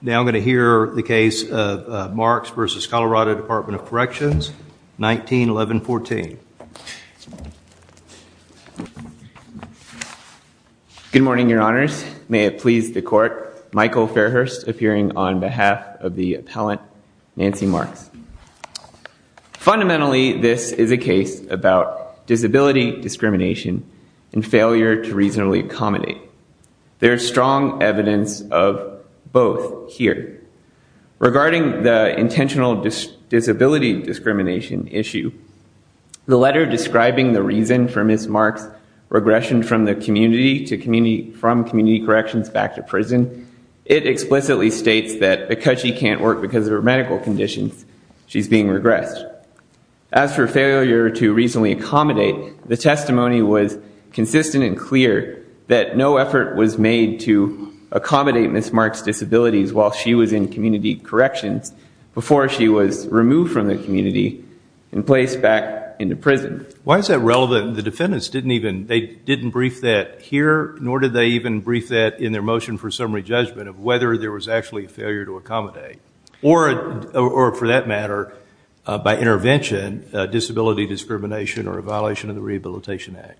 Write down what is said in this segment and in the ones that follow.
Now I'm going to hear the case of Marks v. Colorado Dept. of Corrections, 1911-14. Good morning, your honors. May it please the court, Michael Fairhurst appearing on behalf of the appellant, Nancy Marks. Fundamentally, this is a case about disability discrimination and failure to reasonably accommodate. There is strong evidence of both here. Regarding the intentional disability discrimination issue, the letter describing the reason for Ms. Marks' regression from Community Corrections back to prison, it explicitly states that because she can't work because of her medical conditions, she's being regressed. As for failure to reasonably accommodate, the testimony was consistent and clear that no effort was made to accommodate Ms. Marks' disabilities while she was in Community Corrections before she was removed from the community and placed back into prison. Why is that relevant? The defendants didn't even, they didn't brief that here, nor did they even brief that in their motion for summary judgment of whether there was actually failure to accommodate. Or, for that matter, by intervention, disability discrimination or a violation of the Rehabilitation Act.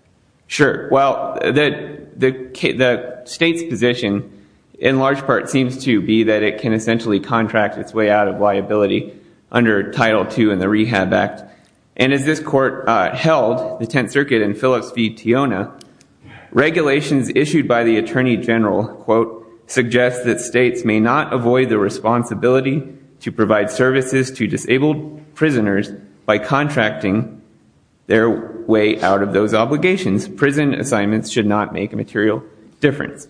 Sure. Well, the state's position in large part seems to be that it can essentially contract its way out of liability under Title II and the Rehab Act. And as this court held, the Tenth Circuit in Phillips v. Tiona, regulations issued by the Attorney General, quote, suggest that states may not avoid the responsibility to provide services to disabled prisoners by contracting their way out of those obligations. Prison assignments should not make a material difference.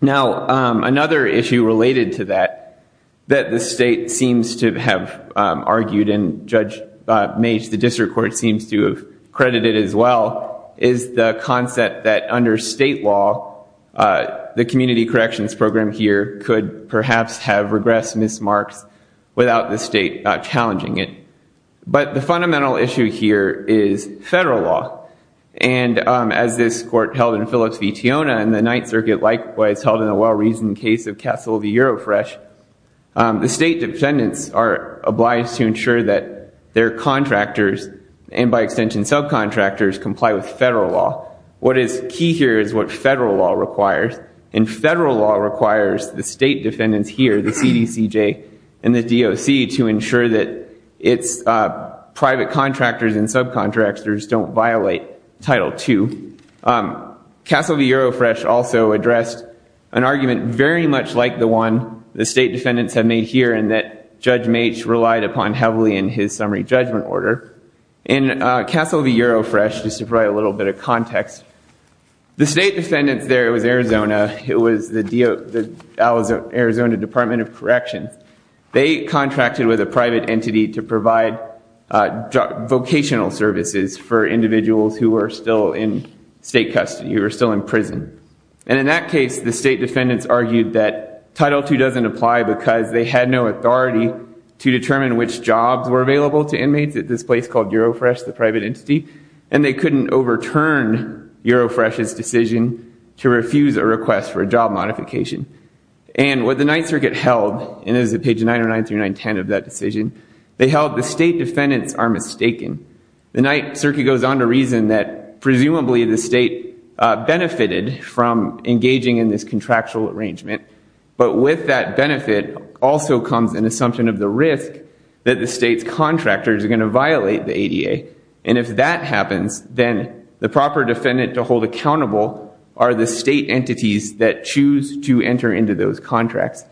Now, another issue related to that, that the state seems to have argued and Judge Mage, the district court, seems to have credited as well, is the concept that under state law, the Community Corrections program here could perhaps have regressed Ms. Marks without the state challenging it. But the fundamental issue here is federal law. And as this court held in Phillips v. Tiona and the Ninth Circuit likewise held in the well-reasoned case of Castle v. Eurofresh, the state defendants are obliged to ensure that their contractors, and by extension subcontractors, comply with federal law. What is key here is what federal law requires. And federal law requires the state defendants here, the CDCJ and the DOC, to ensure that its private contractors and subcontractors don't violate Title II. Castle v. Eurofresh also addressed an argument very much like the one the state defendants have made here and that Judge Mage relied upon heavily in his summary judgment order. In Castle v. Eurofresh, just to provide a little bit of context, the state defendants there, it was Arizona. It was the Arizona Department of Corrections. They contracted with a private entity to provide vocational services for individuals who were still in state custody, who were still in prison. And in that case, the state defendants argued that Title II doesn't apply because they had no authority to determine which jobs were available to inmates at this place called Eurofresh, the private entity, and they couldn't overturn Eurofresh's decision to refuse a request for a job modification. And what the Ninth Circuit held, and this is at page 909 through 910 of that decision, they held the state defendants are mistaken. The Ninth Circuit goes on to reason that presumably the state benefited from engaging in this contractual arrangement, but with that benefit also comes an assumption of the risk that the state's contractors are going to violate the ADA. And if that happens, then the proper defendant to hold accountable are the state entities that choose to enter into those contracts.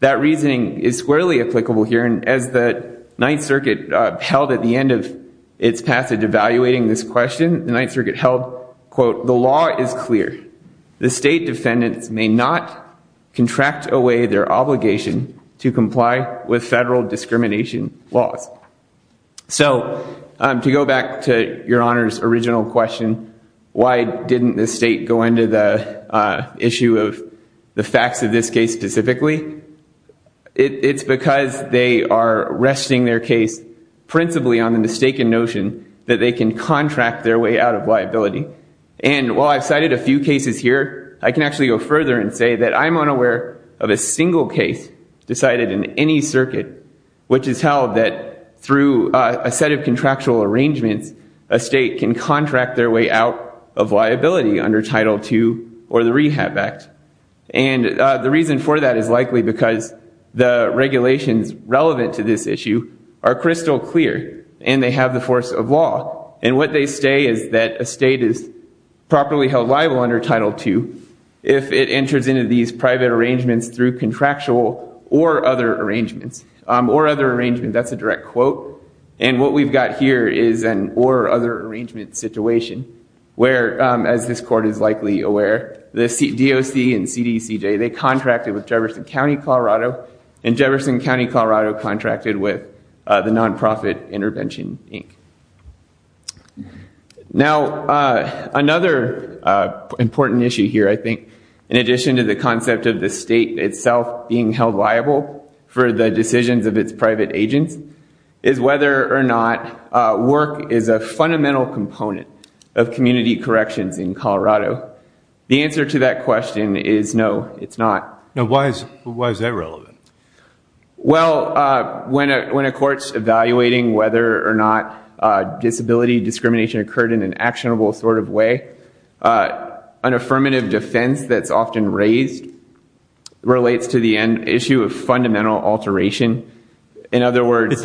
That reasoning is squarely applicable here, and as the Ninth Circuit held at the end of its passage evaluating this question, the Ninth Circuit held, quote, The law is clear. The state defendants may not contract away their obligation to comply with federal discrimination laws. So to go back to Your Honor's original question, why didn't the state go into the issue of the facts of this case specifically, it's because they are resting their case principally on the mistaken notion that they can contract their way out of liability. And while I've cited a few cases here, I can actually go further and say that I'm unaware of a single case decided in any circuit which has held that through a set of contractual arrangements a state can contract their way out of liability under Title II or the Rehab Act. And the reason for that is likely because the regulations relevant to this issue are crystal clear, and they have the force of law. And what they say is that a state is properly held liable under Title II if it enters into these private arrangements through contractual or other arrangements. Or other arrangements, that's a direct quote. And what we've got here is an or other arrangement situation where, as this court is likely aware, the DOC and CDCJ, they contracted with Jefferson County, Colorado, and Jefferson County, Colorado contracted with the Nonprofit Intervention, Inc. Now, another important issue here, I think, in addition to the concept of the state itself being held liable for the decisions of its private agents, is whether or not work is a fundamental component of community corrections in Colorado. The answer to that question is no, it's not. Now, why is that relevant? Well, when a court's evaluating whether or not disability discrimination occurred in an actionable sort of way, an affirmative defense that's often raised relates to the issue of fundamental alteration. In other words...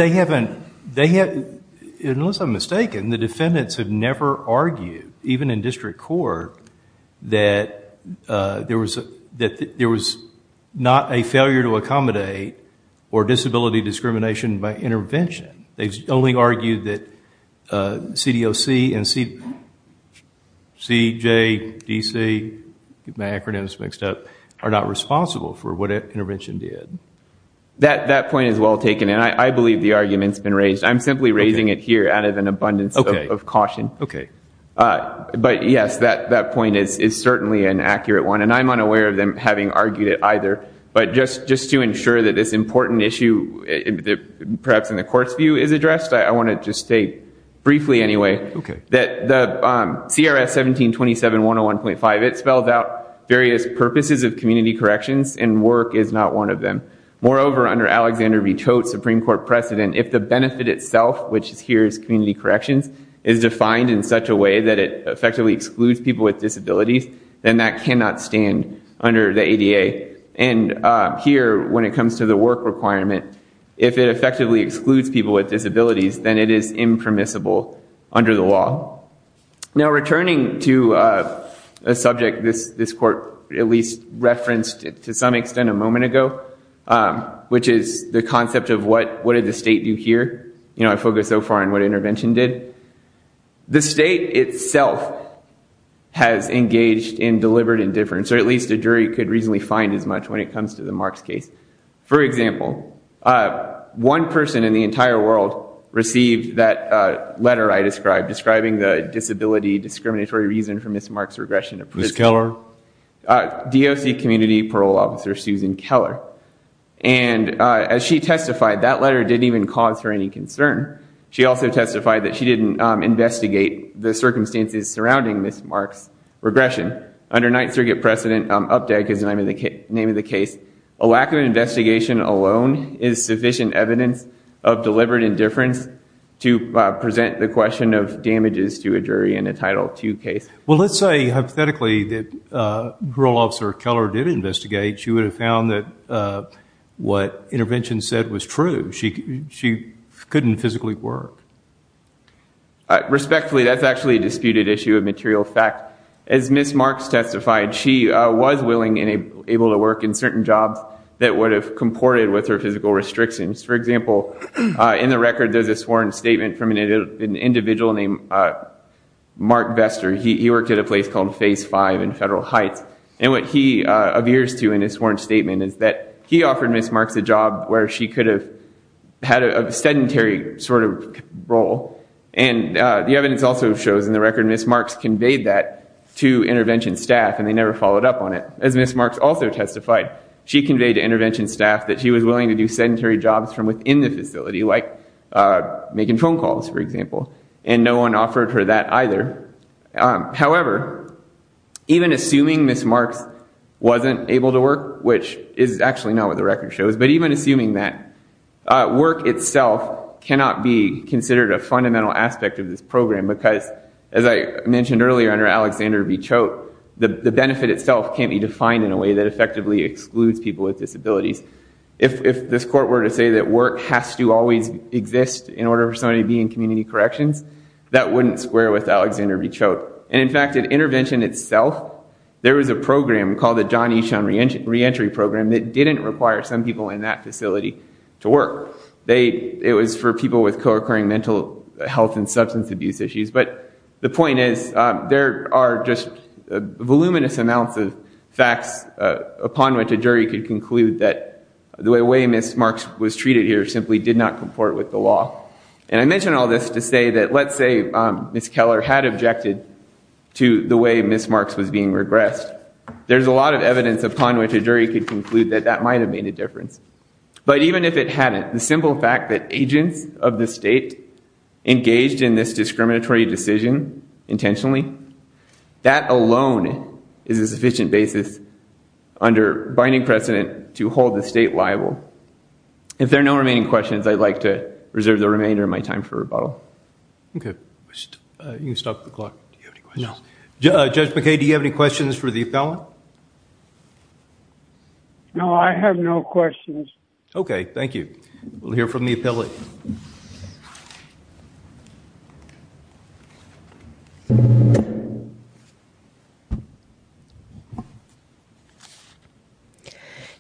Unless I'm mistaken, the defendants have never argued, even in district court, that there was not a failure to accommodate or disability discrimination by intervention. They've only argued that CDOC and CJDC, get my acronyms mixed up, are not responsible for what intervention did. That point is well taken, and I believe the argument's been raised. I'm simply raising it here out of an abundance of caution. But yes, that point is certainly an accurate one, and I'm unaware of them having argued it either. But just to ensure that this important issue, perhaps in the court's view, is addressed, I want to just state, briefly anyway, that the CRS 1727-101.5, it spells out various purposes of community corrections, and work is not one of them. Moreover, under Alexander V. Tote's Supreme Court precedent, if the benefit itself, which here is community corrections, is defined in such a way that it effectively excludes people with disabilities, then that cannot stand under the ADA. And here, when it comes to the work requirement, if it effectively excludes people with disabilities, then it is impermissible under the law. Now, returning to a subject this court at least referenced to some extent a moment ago, which is the concept of what did the state do here? You know, I focus so far on what intervention did. The state itself has engaged in deliberate indifference, or at least a jury could reasonably find as much when it comes to the Marks case. For example, one person in the entire world received that letter I described, describing the disability discriminatory reason for Ms. Marks' regression of prison. Ms. Keller? DOC Community Parole Officer Susan Keller. And as she testified, that letter didn't even cause her any concern. She also testified that she didn't investigate the circumstances surrounding Ms. Marks' regression. Under Ninth Circuit precedent, UPDEC is the name of the case, a lack of an investigation alone is sufficient evidence of deliberate indifference to present the question of damages to a jury in a Title II case. Well, let's say hypothetically that Parole Officer Keller did investigate, she would have found that what intervention said was true. She couldn't physically work. Respectfully, that's actually a disputed issue of material fact. As Ms. Marks testified, she was willing and able to work in certain jobs that would have comported with her physical restrictions. For example, in the record there's a sworn statement from an individual named Mark Vester. He worked at a place called Phase 5 in Federal Heights. And what he adheres to in his sworn statement is that he offered Ms. Marks a job where she could have had a sedentary sort of role. And the evidence also shows in the record Ms. Marks conveyed that to intervention staff and they never followed up on it. As Ms. Marks also testified, she conveyed to intervention staff that she was willing to do sedentary jobs from within the facility, like making phone calls, for example. And no one offered her that either. However, even assuming Ms. Marks wasn't able to work, which is actually not what the record shows, but even assuming that work itself cannot be considered a fundamental aspect of this program because, as I mentioned earlier under Alexander V. Choate, the benefit itself can't be defined in a way that effectively excludes people with disabilities. If this court were to say that work has to always exist in order for somebody to be in community corrections, that wouldn't square with Alexander V. Choate. And, in fact, at intervention itself, there was a program called the John Eshon Reentry Program that didn't require some people in that facility to work. It was for people with co-occurring mental health and substance abuse issues. But the point is there are just voluminous amounts of facts upon which a jury could conclude that the way Ms. Marks was treated here simply did not comport with the law. And I mention all this to say that let's say Ms. Keller had objected to the way Ms. Marks was being regressed. There's a lot of evidence upon which a jury could conclude that that might have made a difference. But even if it hadn't, the simple fact that agents of the state engaged in this discriminatory decision intentionally, that alone is a sufficient basis under binding precedent to hold the state liable. If there are no remaining questions, I'd like to reserve the remainder of my time for rebuttal. Okay. You can stop the clock. Do you have any questions? No. Judge McKay, do you have any questions for the appellant? No, I have no questions. Okay. Thank you. We'll hear from the appellant.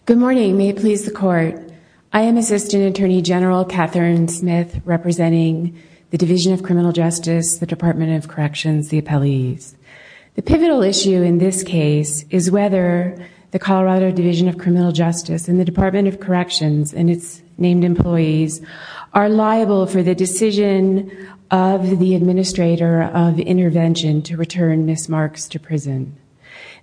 Good morning. May it please the court. I am Assistant Attorney General Catherine Smith representing the Division of Criminal Justice, the Department of Corrections, the appellees. The pivotal issue in this case is whether the Colorado Division of Criminal Justice and the Department of Corrections and its named employees are liable for the decision of the administrator of intervention to return Ms. Marks to prison.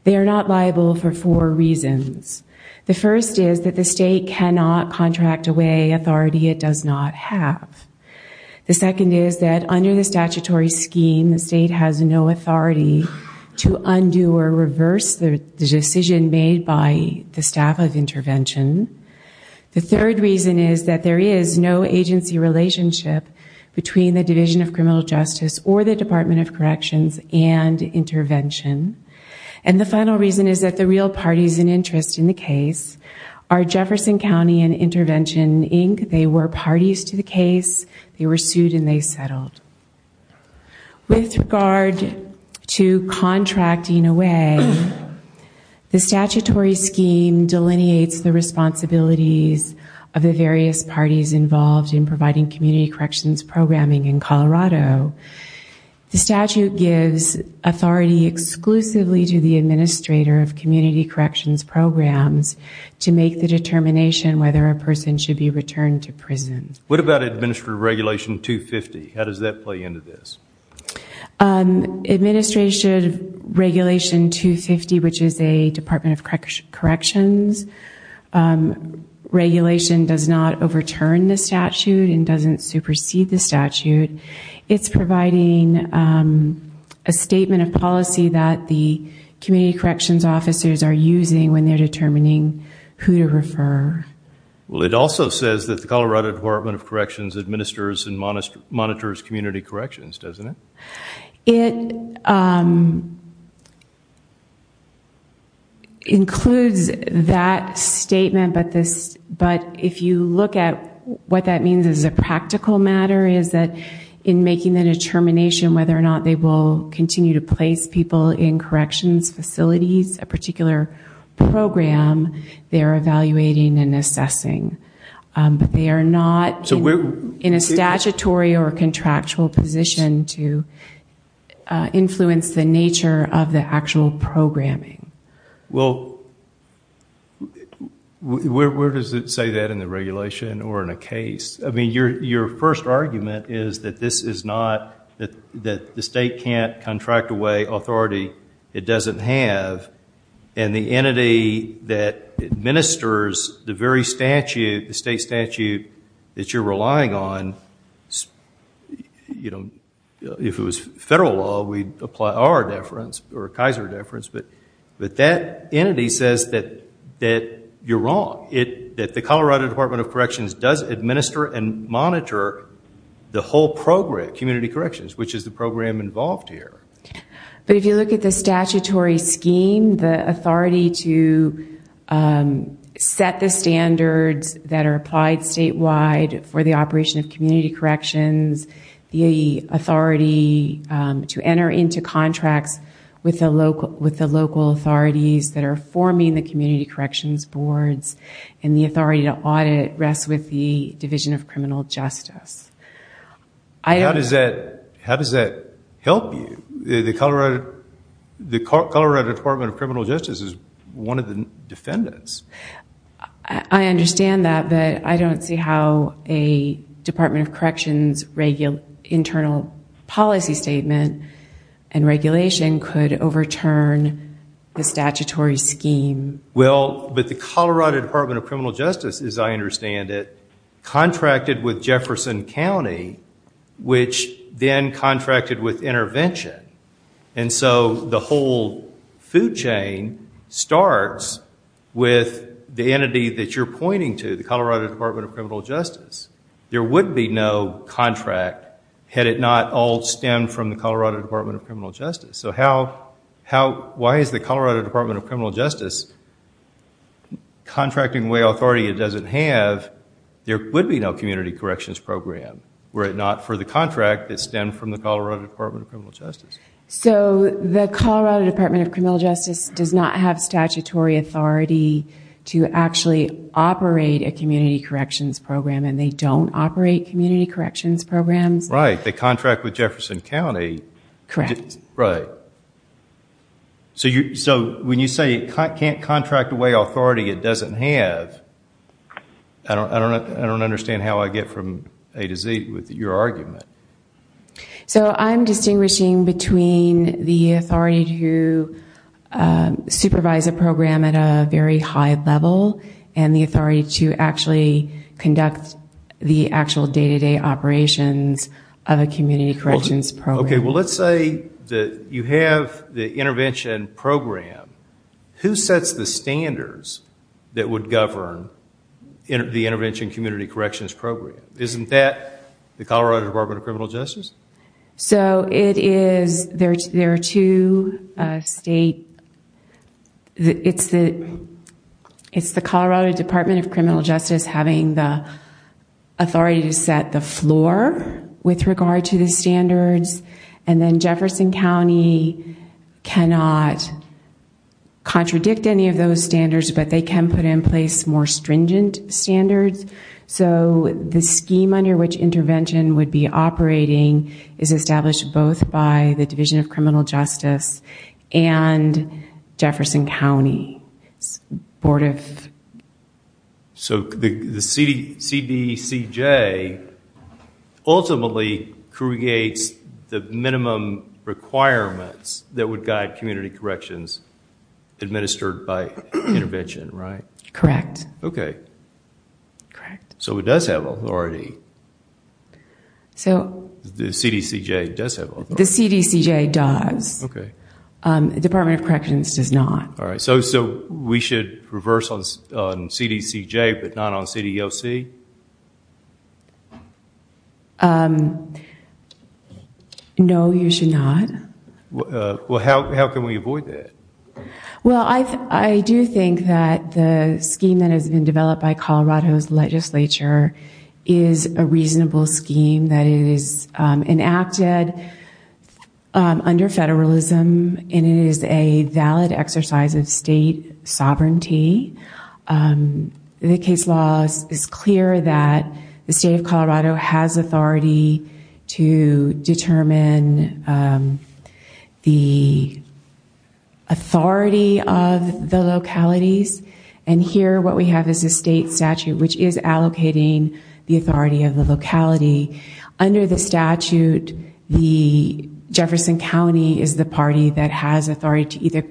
They are not liable for four reasons. The first is that the state cannot contract away authority it does not have. The second is that under the statutory scheme, the state has no authority to undo or reverse the decision made by the staff of intervention. The third reason is that there is no agency relationship between the Division of Criminal Justice or the Department of Corrections and intervention. And the final reason is that the real parties in interest in the case are Jefferson County and Intervention, Inc. They were parties to the case. They were sued and they settled. With regard to contracting away, the statutory scheme delineates the responsibilities of the various parties involved in providing community corrections programming in Colorado. The statute gives authority exclusively to the administrator of community corrections programs to make the determination whether a person should be returned to prison. What about Administrative Regulation 250? How does that play into this? Administration Regulation 250, which is a Department of Corrections regulation, does not overturn the statute and doesn't supersede the statute. It's providing a statement of policy that the community corrections officers are using when they're determining who to refer. Well, it also says that the Colorado Department of Corrections administers and monitors community corrections, doesn't it? It includes that statement, but if you look at what that means as a practical matter, is that in making the determination whether or not they will continue to place people in corrections facilities, a particular program, they're evaluating and assessing. But they are not in a statutory or contractual position to influence the nature of the actual programming. Well, where does it say that in the regulation or in a case? I mean, your first argument is that the state can't contract away authority it doesn't have, and the entity that administers the very statute, the state statute that you're relying on, if it was federal law, we'd apply our deference or a Kaiser deference, but that entity says that you're wrong, that the Colorado Department of Corrections does administer and monitor the whole program, community corrections, which is the program involved here. But if you look at the statutory scheme, the authority to set the standards that are applied statewide for the operation of community corrections, the authority to enter into contracts with the local authorities that are forming the community corrections boards, and the authority to audit rests with the Division of Criminal Justice. How does that help you? The Colorado Department of Criminal Justice is one of the defendants. I understand that, but I don't see how a Department of Corrections internal policy statement and regulation could overturn the statutory scheme. Well, but the Colorado Department of Criminal Justice, as I understand it, contracted with Jefferson County, which then contracted with Intervention. And so the whole food chain starts with the entity that you're pointing to, the Colorado Department of Criminal Justice. There would be no contract had it not all stemmed from the Colorado Department of Criminal Justice. So why is the Colorado Department of Criminal Justice contracting away authority it doesn't have? There would be no community corrections program were it not for the contract that stemmed from the Colorado Department of Criminal Justice. So the Colorado Department of Criminal Justice does not have statutory authority to actually operate a community corrections program, and they don't operate community corrections programs? Right. They contract with Jefferson County. Correct. Right. So when you say it can't contract away authority it doesn't have, I don't understand how I get from A to Z with your argument. So I'm distinguishing between the authority to supervise a program at a very high level and the authority to actually conduct the actual day-to-day operations of a community corrections program. Okay, well let's say that you have the intervention program. Who sets the standards that would govern the intervention community corrections program? Isn't that the Colorado Department of Criminal Justice? So it is, there are two state, it's the Colorado Department of Criminal Justice having the authority to set the floor with regard to the standards, and then Jefferson County cannot contradict any of those standards, but they can put in place more stringent standards. So the scheme under which intervention would be operating is established both by the Division of Criminal Justice and Jefferson County Board of... Ultimately creates the minimum requirements that would guide community corrections administered by intervention, right? Correct. Okay. Correct. So it does have authority. The CDCJ does have authority. The CDCJ does. Okay. The Department of Corrections does not. All right, so we should reverse on CDCJ but not on CDOC? No, you should not. Well, how can we avoid that? Well, I do think that the scheme that has been developed by Colorado's legislature is a reasonable scheme that is enacted under federalism, and it is a valid exercise of state sovereignty. The case law is clear that the state of Colorado has authority to determine the authority of the localities, and here what we have is a state statute which is allocating the authority of the locality. Under the statute, Jefferson County is the party that has authority to either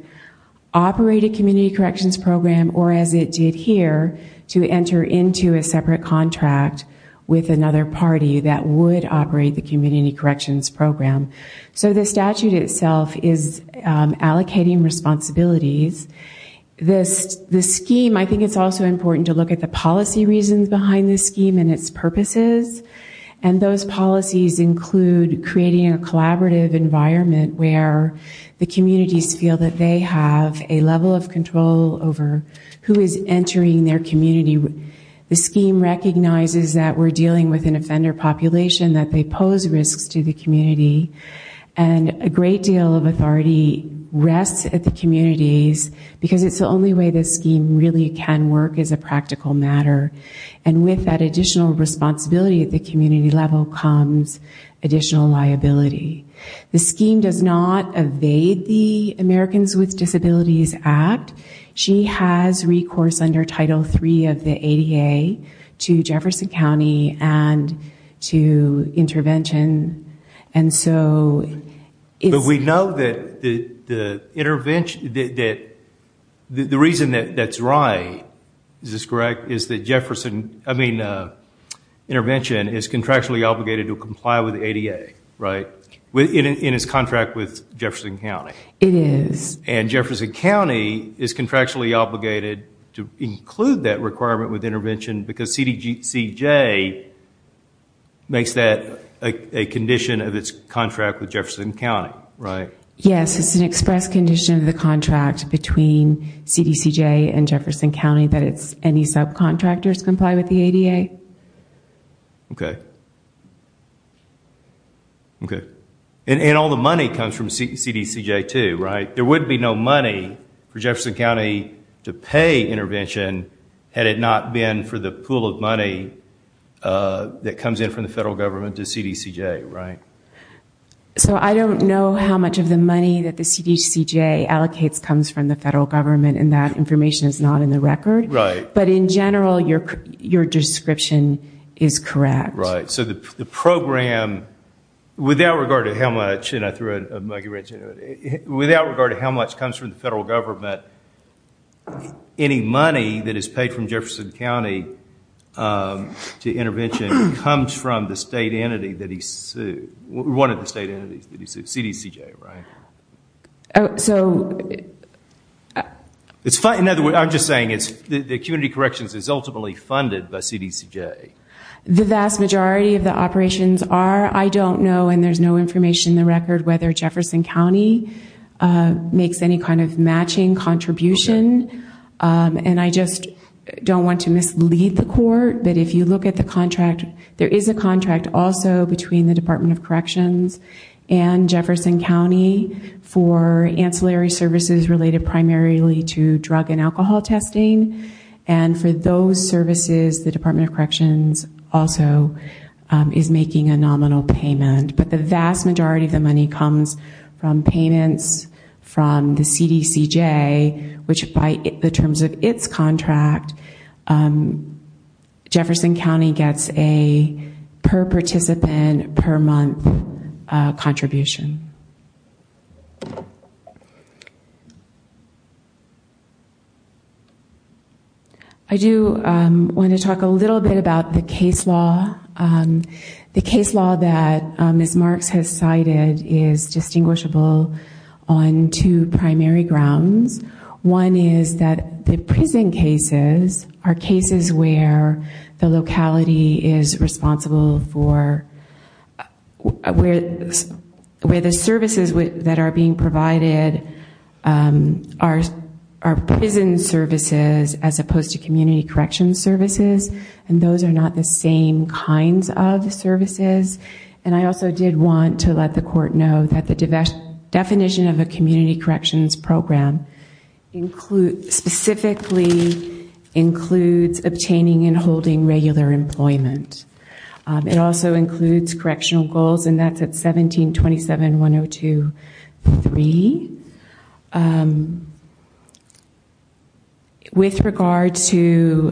operate a community corrections program or, as it did here, to enter into a separate contract with another party that would operate the community corrections program. So the statute itself is allocating responsibilities. The scheme, I think it's also important to look at the policy reasons behind the scheme and its purposes, and those policies include creating a collaborative environment where the communities feel that they have a level of control over who is entering their community. The scheme recognizes that we're dealing with an offender population, that they pose risks to the community, and a great deal of authority rests at the communities, because it's the only way the scheme really can work as a practical matter, and with that additional responsibility at the community level comes additional liability. The scheme does not evade the Americans with Disabilities Act. She has recourse under Title III of the ADA to Jefferson County and to intervention, and so it's... But we know that the reason that's right, is this correct, is that Jefferson, I mean, intervention is contractually obligated to comply with the ADA, right, in its contract with Jefferson County. It is. And Jefferson County is contractually obligated to include that requirement with intervention, because CDCJ makes that a condition of its contract with Jefferson County, right? Yes, it's an express condition of the contract between CDCJ and Jefferson County that any subcontractors comply with the ADA. Okay. Okay. And all the money comes from CDCJ too, right? There would be no money for Jefferson County to pay intervention had it not been for the pool of money that comes in from the federal government to CDCJ, right? So I don't know how much of the money that the CDCJ allocates comes from the federal government, and that information is not in the record. Right. But in general, your description is correct. Right. So the program, without regard to how much, and I threw a muggy wrench into it, without regard to how much comes from the federal government, any money that is paid from Jefferson County to intervention comes from the state entity that he sued, one of the state entities that he sued, CDCJ, right? So... I'm just saying the Community Corrections is ultimately funded by CDCJ. The vast majority of the operations are. I don't know, and there's no information in the record, whether Jefferson County makes any kind of matching contribution, and I just don't want to mislead the court, but if you look at the contract, there is a contract also between the Department of Corrections and Jefferson County for ancillary services related primarily to drug and alcohol testing, and for those services, the Department of Corrections also is making a nominal payment. But the vast majority of the money comes from payments from the CDCJ, which by the terms of its contract, Jefferson County gets a per-participant, per-month contribution. I do want to talk a little bit about the case law. The case law that Ms. Marks has cited is distinguishable on two primary grounds. One is that the prison cases are cases where the locality is responsible for... where the services that are being provided are prison services as opposed to community corrections services, and those are not the same kinds of services. And I also did want to let the court know that the definition of a community corrections program specifically includes obtaining and holding regular employment. It also includes correctional goals, and that's at 1727.102.3. With regard to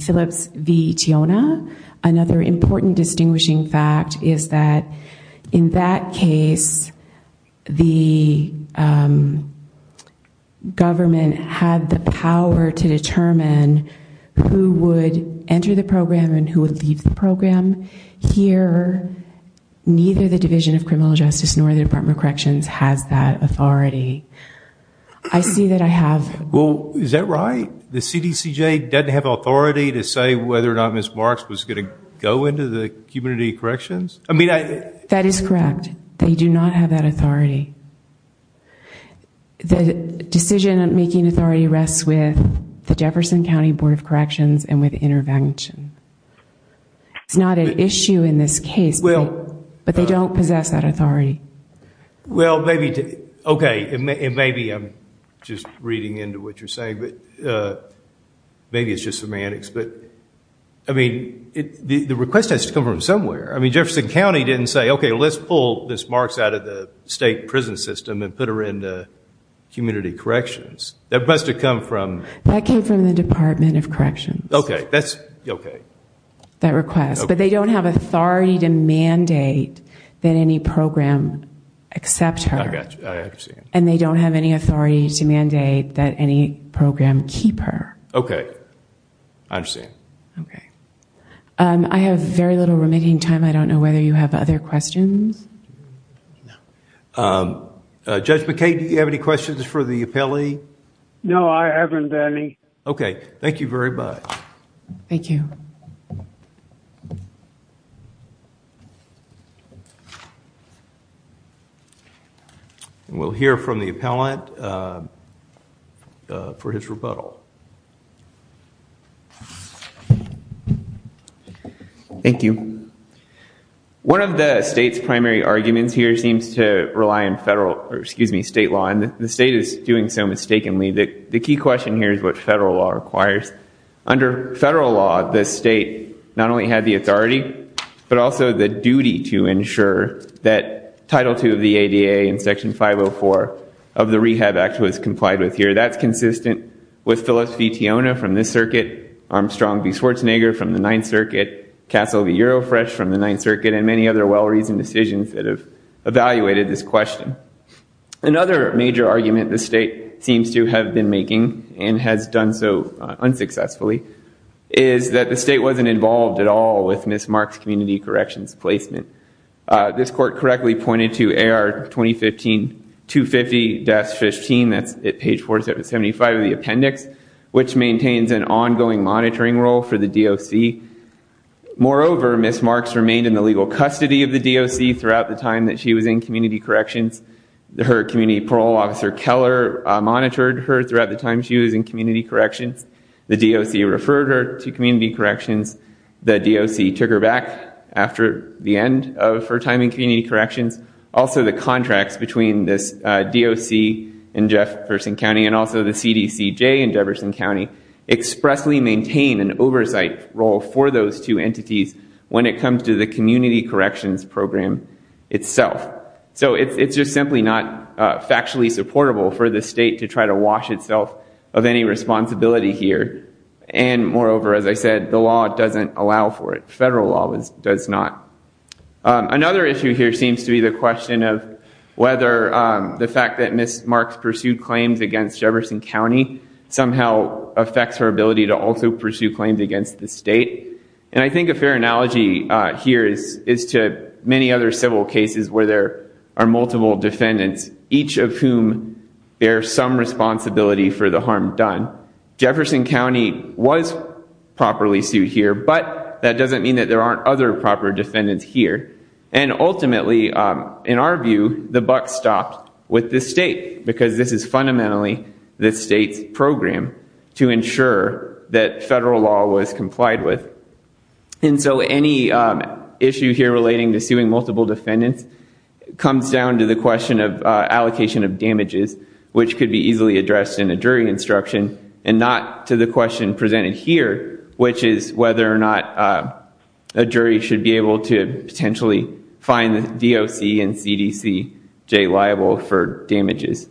Phillips v. Tiona, another important distinguishing fact is that in that case, the government had the power to determine who would enter the program and who would leave the program. Here, neither the Division of Criminal Justice nor the Department of Corrections has that authority. I see that I have... Well, is that right? The CDCJ doesn't have authority to say whether or not Ms. Marks was going to go into the community corrections? I mean, I... That is correct. They do not have that authority. The decision-making authority rests with the Jefferson County Board of Corrections and with intervention. It's not an issue in this case, but they don't possess that authority. Well, maybe... Okay, and maybe I'm just reading into what you're saying, but maybe it's just semantics. But, I mean, the request has to come from somewhere. I mean, Jefferson County didn't say, okay, let's pull Ms. Marks out of the state prison system and put her into community corrections. That must have come from... That came from the Department of Corrections. Okay, that's okay. That request. But they don't have authority to mandate that any program accept her. I got you. I understand. And they don't have any authority to mandate that any program keep her. Okay. I understand. Okay. I have very little remaining time. I don't know whether you have other questions. No. Judge McKay, do you have any questions for the appellee? No, I haven't any. Okay. Thank you very much. Thank you. We'll hear from the appellant for his rebuttal. Thank you. One of the state's primary arguments here seems to rely on federal, or excuse me, state law. And the state is doing so mistakenly. The key question here is what federal law requires. Under federal law, the state not only had the authority, but also the duty to ensure that Title II of the ADA and Section 504 of the Rehab Act was complied with here. That's consistent with Phyllis V. Tiona from this circuit, Armstrong V. Schwarzenegger from the Ninth Circuit, Castle V. Eurofresh from the Ninth Circuit, and many other well-reasoned decisions that have evaluated this question. Another major argument the state seems to have been making, and has done so unsuccessfully, is that the state wasn't involved at all with Ms. Mark's community corrections placement. This court correctly pointed to AR 2015-250-15, that's at page 475 of the appendix, which maintains an ongoing monitoring role for the DOC. Moreover, Ms. Marks remained in the legal custody of the DOC throughout the time that she was in community corrections. Her community parole officer, Keller, monitored her throughout the time she was in community corrections. The DOC referred her to community corrections. The DOC took her back after the end of her time in community corrections. Also, the contracts between this DOC in Jefferson County, and also the CDCJ in Jefferson County, expressly maintain an oversight role for those two entities when it comes to the community corrections program itself. So it's just simply not factually supportable for the state to try to wash itself of any responsibility here. Moreover, as I said, the law doesn't allow for it. Federal law does not. Another issue here seems to be the question of whether the fact that Ms. Marks pursued claims against Jefferson County somehow affects her ability to also pursue claims against the state. I think a fair analogy here is to many other civil cases where there are multiple defendants, each of whom bear some responsibility for the harm done. Jefferson County was properly sued here, but that doesn't mean that there aren't other proper defendants here. And ultimately, in our view, the buck stopped with the state, because this is fundamentally the state's program to ensure that federal law was complied with. And so any issue here relating to suing multiple defendants comes down to the question of allocation of damages, which could be easily addressed in a jury instruction, and not to the question presented here, which is whether or not a jury should be able to potentially find the DOC and CDC J liable for damages.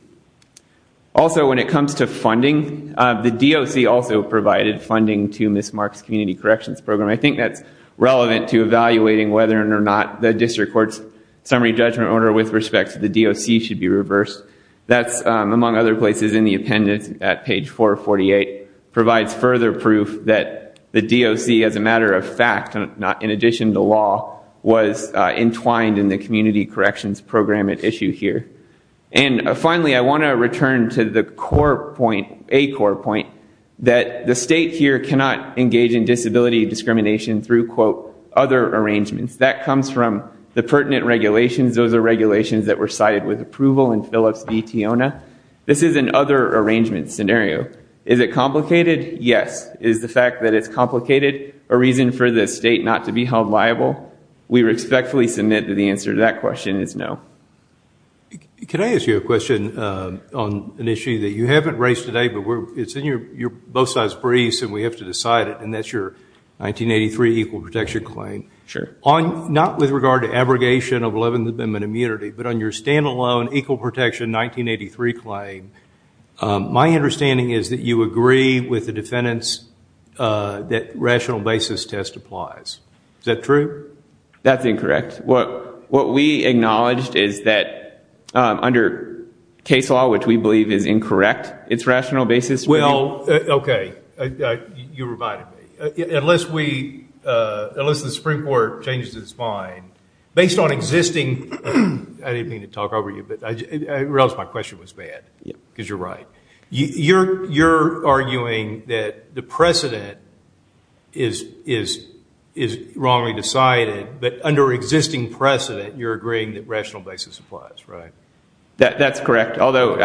Also, when it comes to funding, the DOC also provided funding to Ms. Marks' community corrections program. I think that's relevant to evaluating whether or not the district court's summary judgment order with respect to the DOC should be reversed. That's, among other places, in the appendix at page 448, provides further proof that the DOC, as a matter of fact, in addition to law, was entwined in the community corrections program at issue here. And finally, I want to return to the core point, a core point, that the state here cannot engage in disability discrimination through, quote, other arrangements. That comes from the pertinent regulations. Those are regulations that were cited with approval in Phillips v. Tiona. This is an other arrangement scenario. Is it complicated? Yes. Is the fact that it's complicated a reason for the state not to be held liable? We respectfully submit that the answer to that question is no. Can I ask you a question on an issue that you haven't raised today, but it's in your both sides' briefs and we have to decide it, and that's your 1983 equal protection claim. Sure. Not with regard to abrogation of 11th Amendment immunity, but on your standalone equal protection 1983 claim, my understanding is that you agree with the defendants that rational basis test applies. Is that true? That's incorrect. What we acknowledged is that under case law, which we believe is incorrect, it's rational basis. Well, okay. You reminded me. Unless the Supreme Court changes its mind, based on existing ‑‑ I didn't mean to talk over you, or else my question was bad, because you're right. You're arguing that the precedent is wrongly decided, but under existing precedent you're agreeing that rational basis applies, right? That's correct. Although,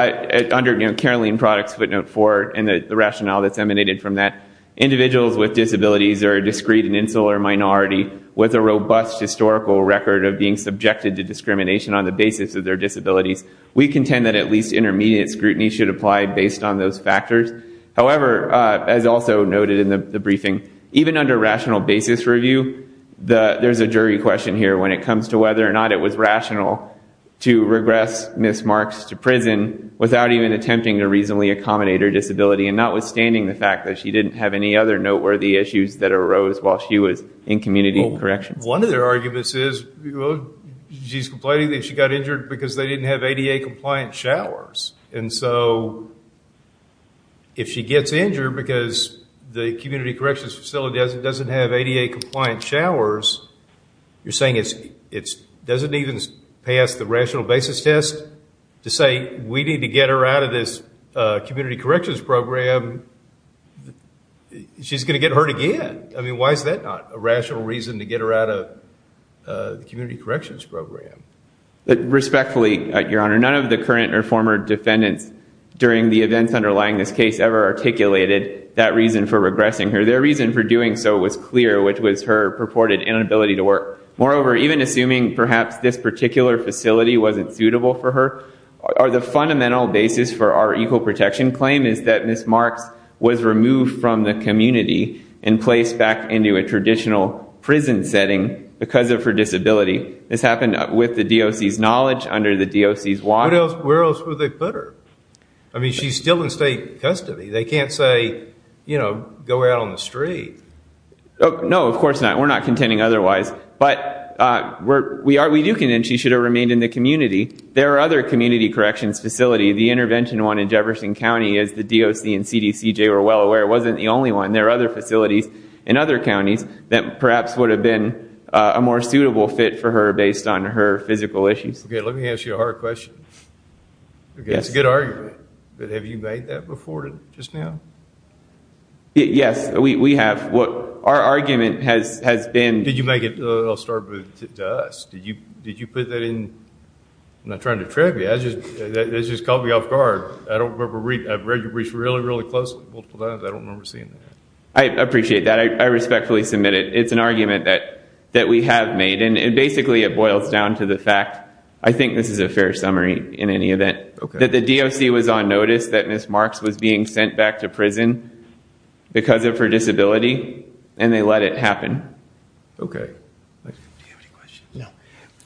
under Caroline Product's footnote 4 and the rationale that's emanated from that, individuals with disabilities are a discrete and insular minority with a robust historical record of being subjected to discrimination on the basis of their disabilities. We contend that at least intermediate scrutiny should apply based on those factors. However, as also noted in the briefing, even under rational basis review, there's a jury question here when it comes to whether or not it was rational to regress Ms. Marks to prison without even attempting to reasonably accommodate her disability, and notwithstanding the fact that she didn't have any other noteworthy issues that arose while she was in community corrections. Well, one of their arguments is she's complaining that she got injured because they didn't have ADA-compliant showers. And so if she gets injured because the community corrections facility doesn't have ADA-compliant showers, you're saying it doesn't even pass the rational basis test to say, we need to get her out of this community corrections program. She's going to get hurt again. I mean, why is that not a rational reason to get her out of the community corrections program? Respectfully, Your Honor, none of the current or former defendants during the events underlying this case ever articulated that reason for regressing her. Their reason for doing so was clear, which was her purported inability to work. Moreover, even assuming perhaps this particular facility wasn't suitable for her, the fundamental basis for our equal protection claim is that Ms. Marks was removed from the community and placed back into a traditional prison setting because of her disability. This happened with the DOC's knowledge, under the DOC's watch. Where else would they put her? I mean, she's still in state custody. They can't say, you know, go out on the street. No, of course not. We're not contending otherwise. But we do contend she should have remained in the community. There are other community corrections facilities. The intervention one in Jefferson County, as the DOC and CDCJ were well aware, wasn't the only one. There are other facilities in other counties that perhaps would have been a more suitable fit for her based on her physical issues. Okay, let me ask you a hard question. It's a good argument. But have you made that before just now? Yes, we have. Our argument has been. Did you make it, I'll start with, to us? Did you put that in? I'm not trying to trip you. That just caught me off guard. I've read your brief really, really closely. I don't remember seeing that. I appreciate that. I respectfully submit it. It's an argument that we have made. And basically it boils down to the fact, I think this is a fair summary in any event, that the DOC was on notice that Ms. Marks was being sent back to prison because of her disability, and they let it happen. Okay. Do you have any questions?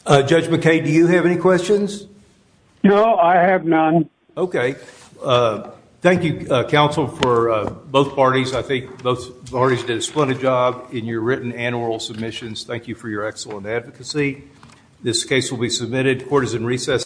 No. Judge McKay, do you have any questions? No, I have none. Okay. Thank you, counsel, for both parties. I think both parties did a splendid job in your written and oral submissions. Thank you for your excellent advocacy. This case will be submitted. Court is in recess.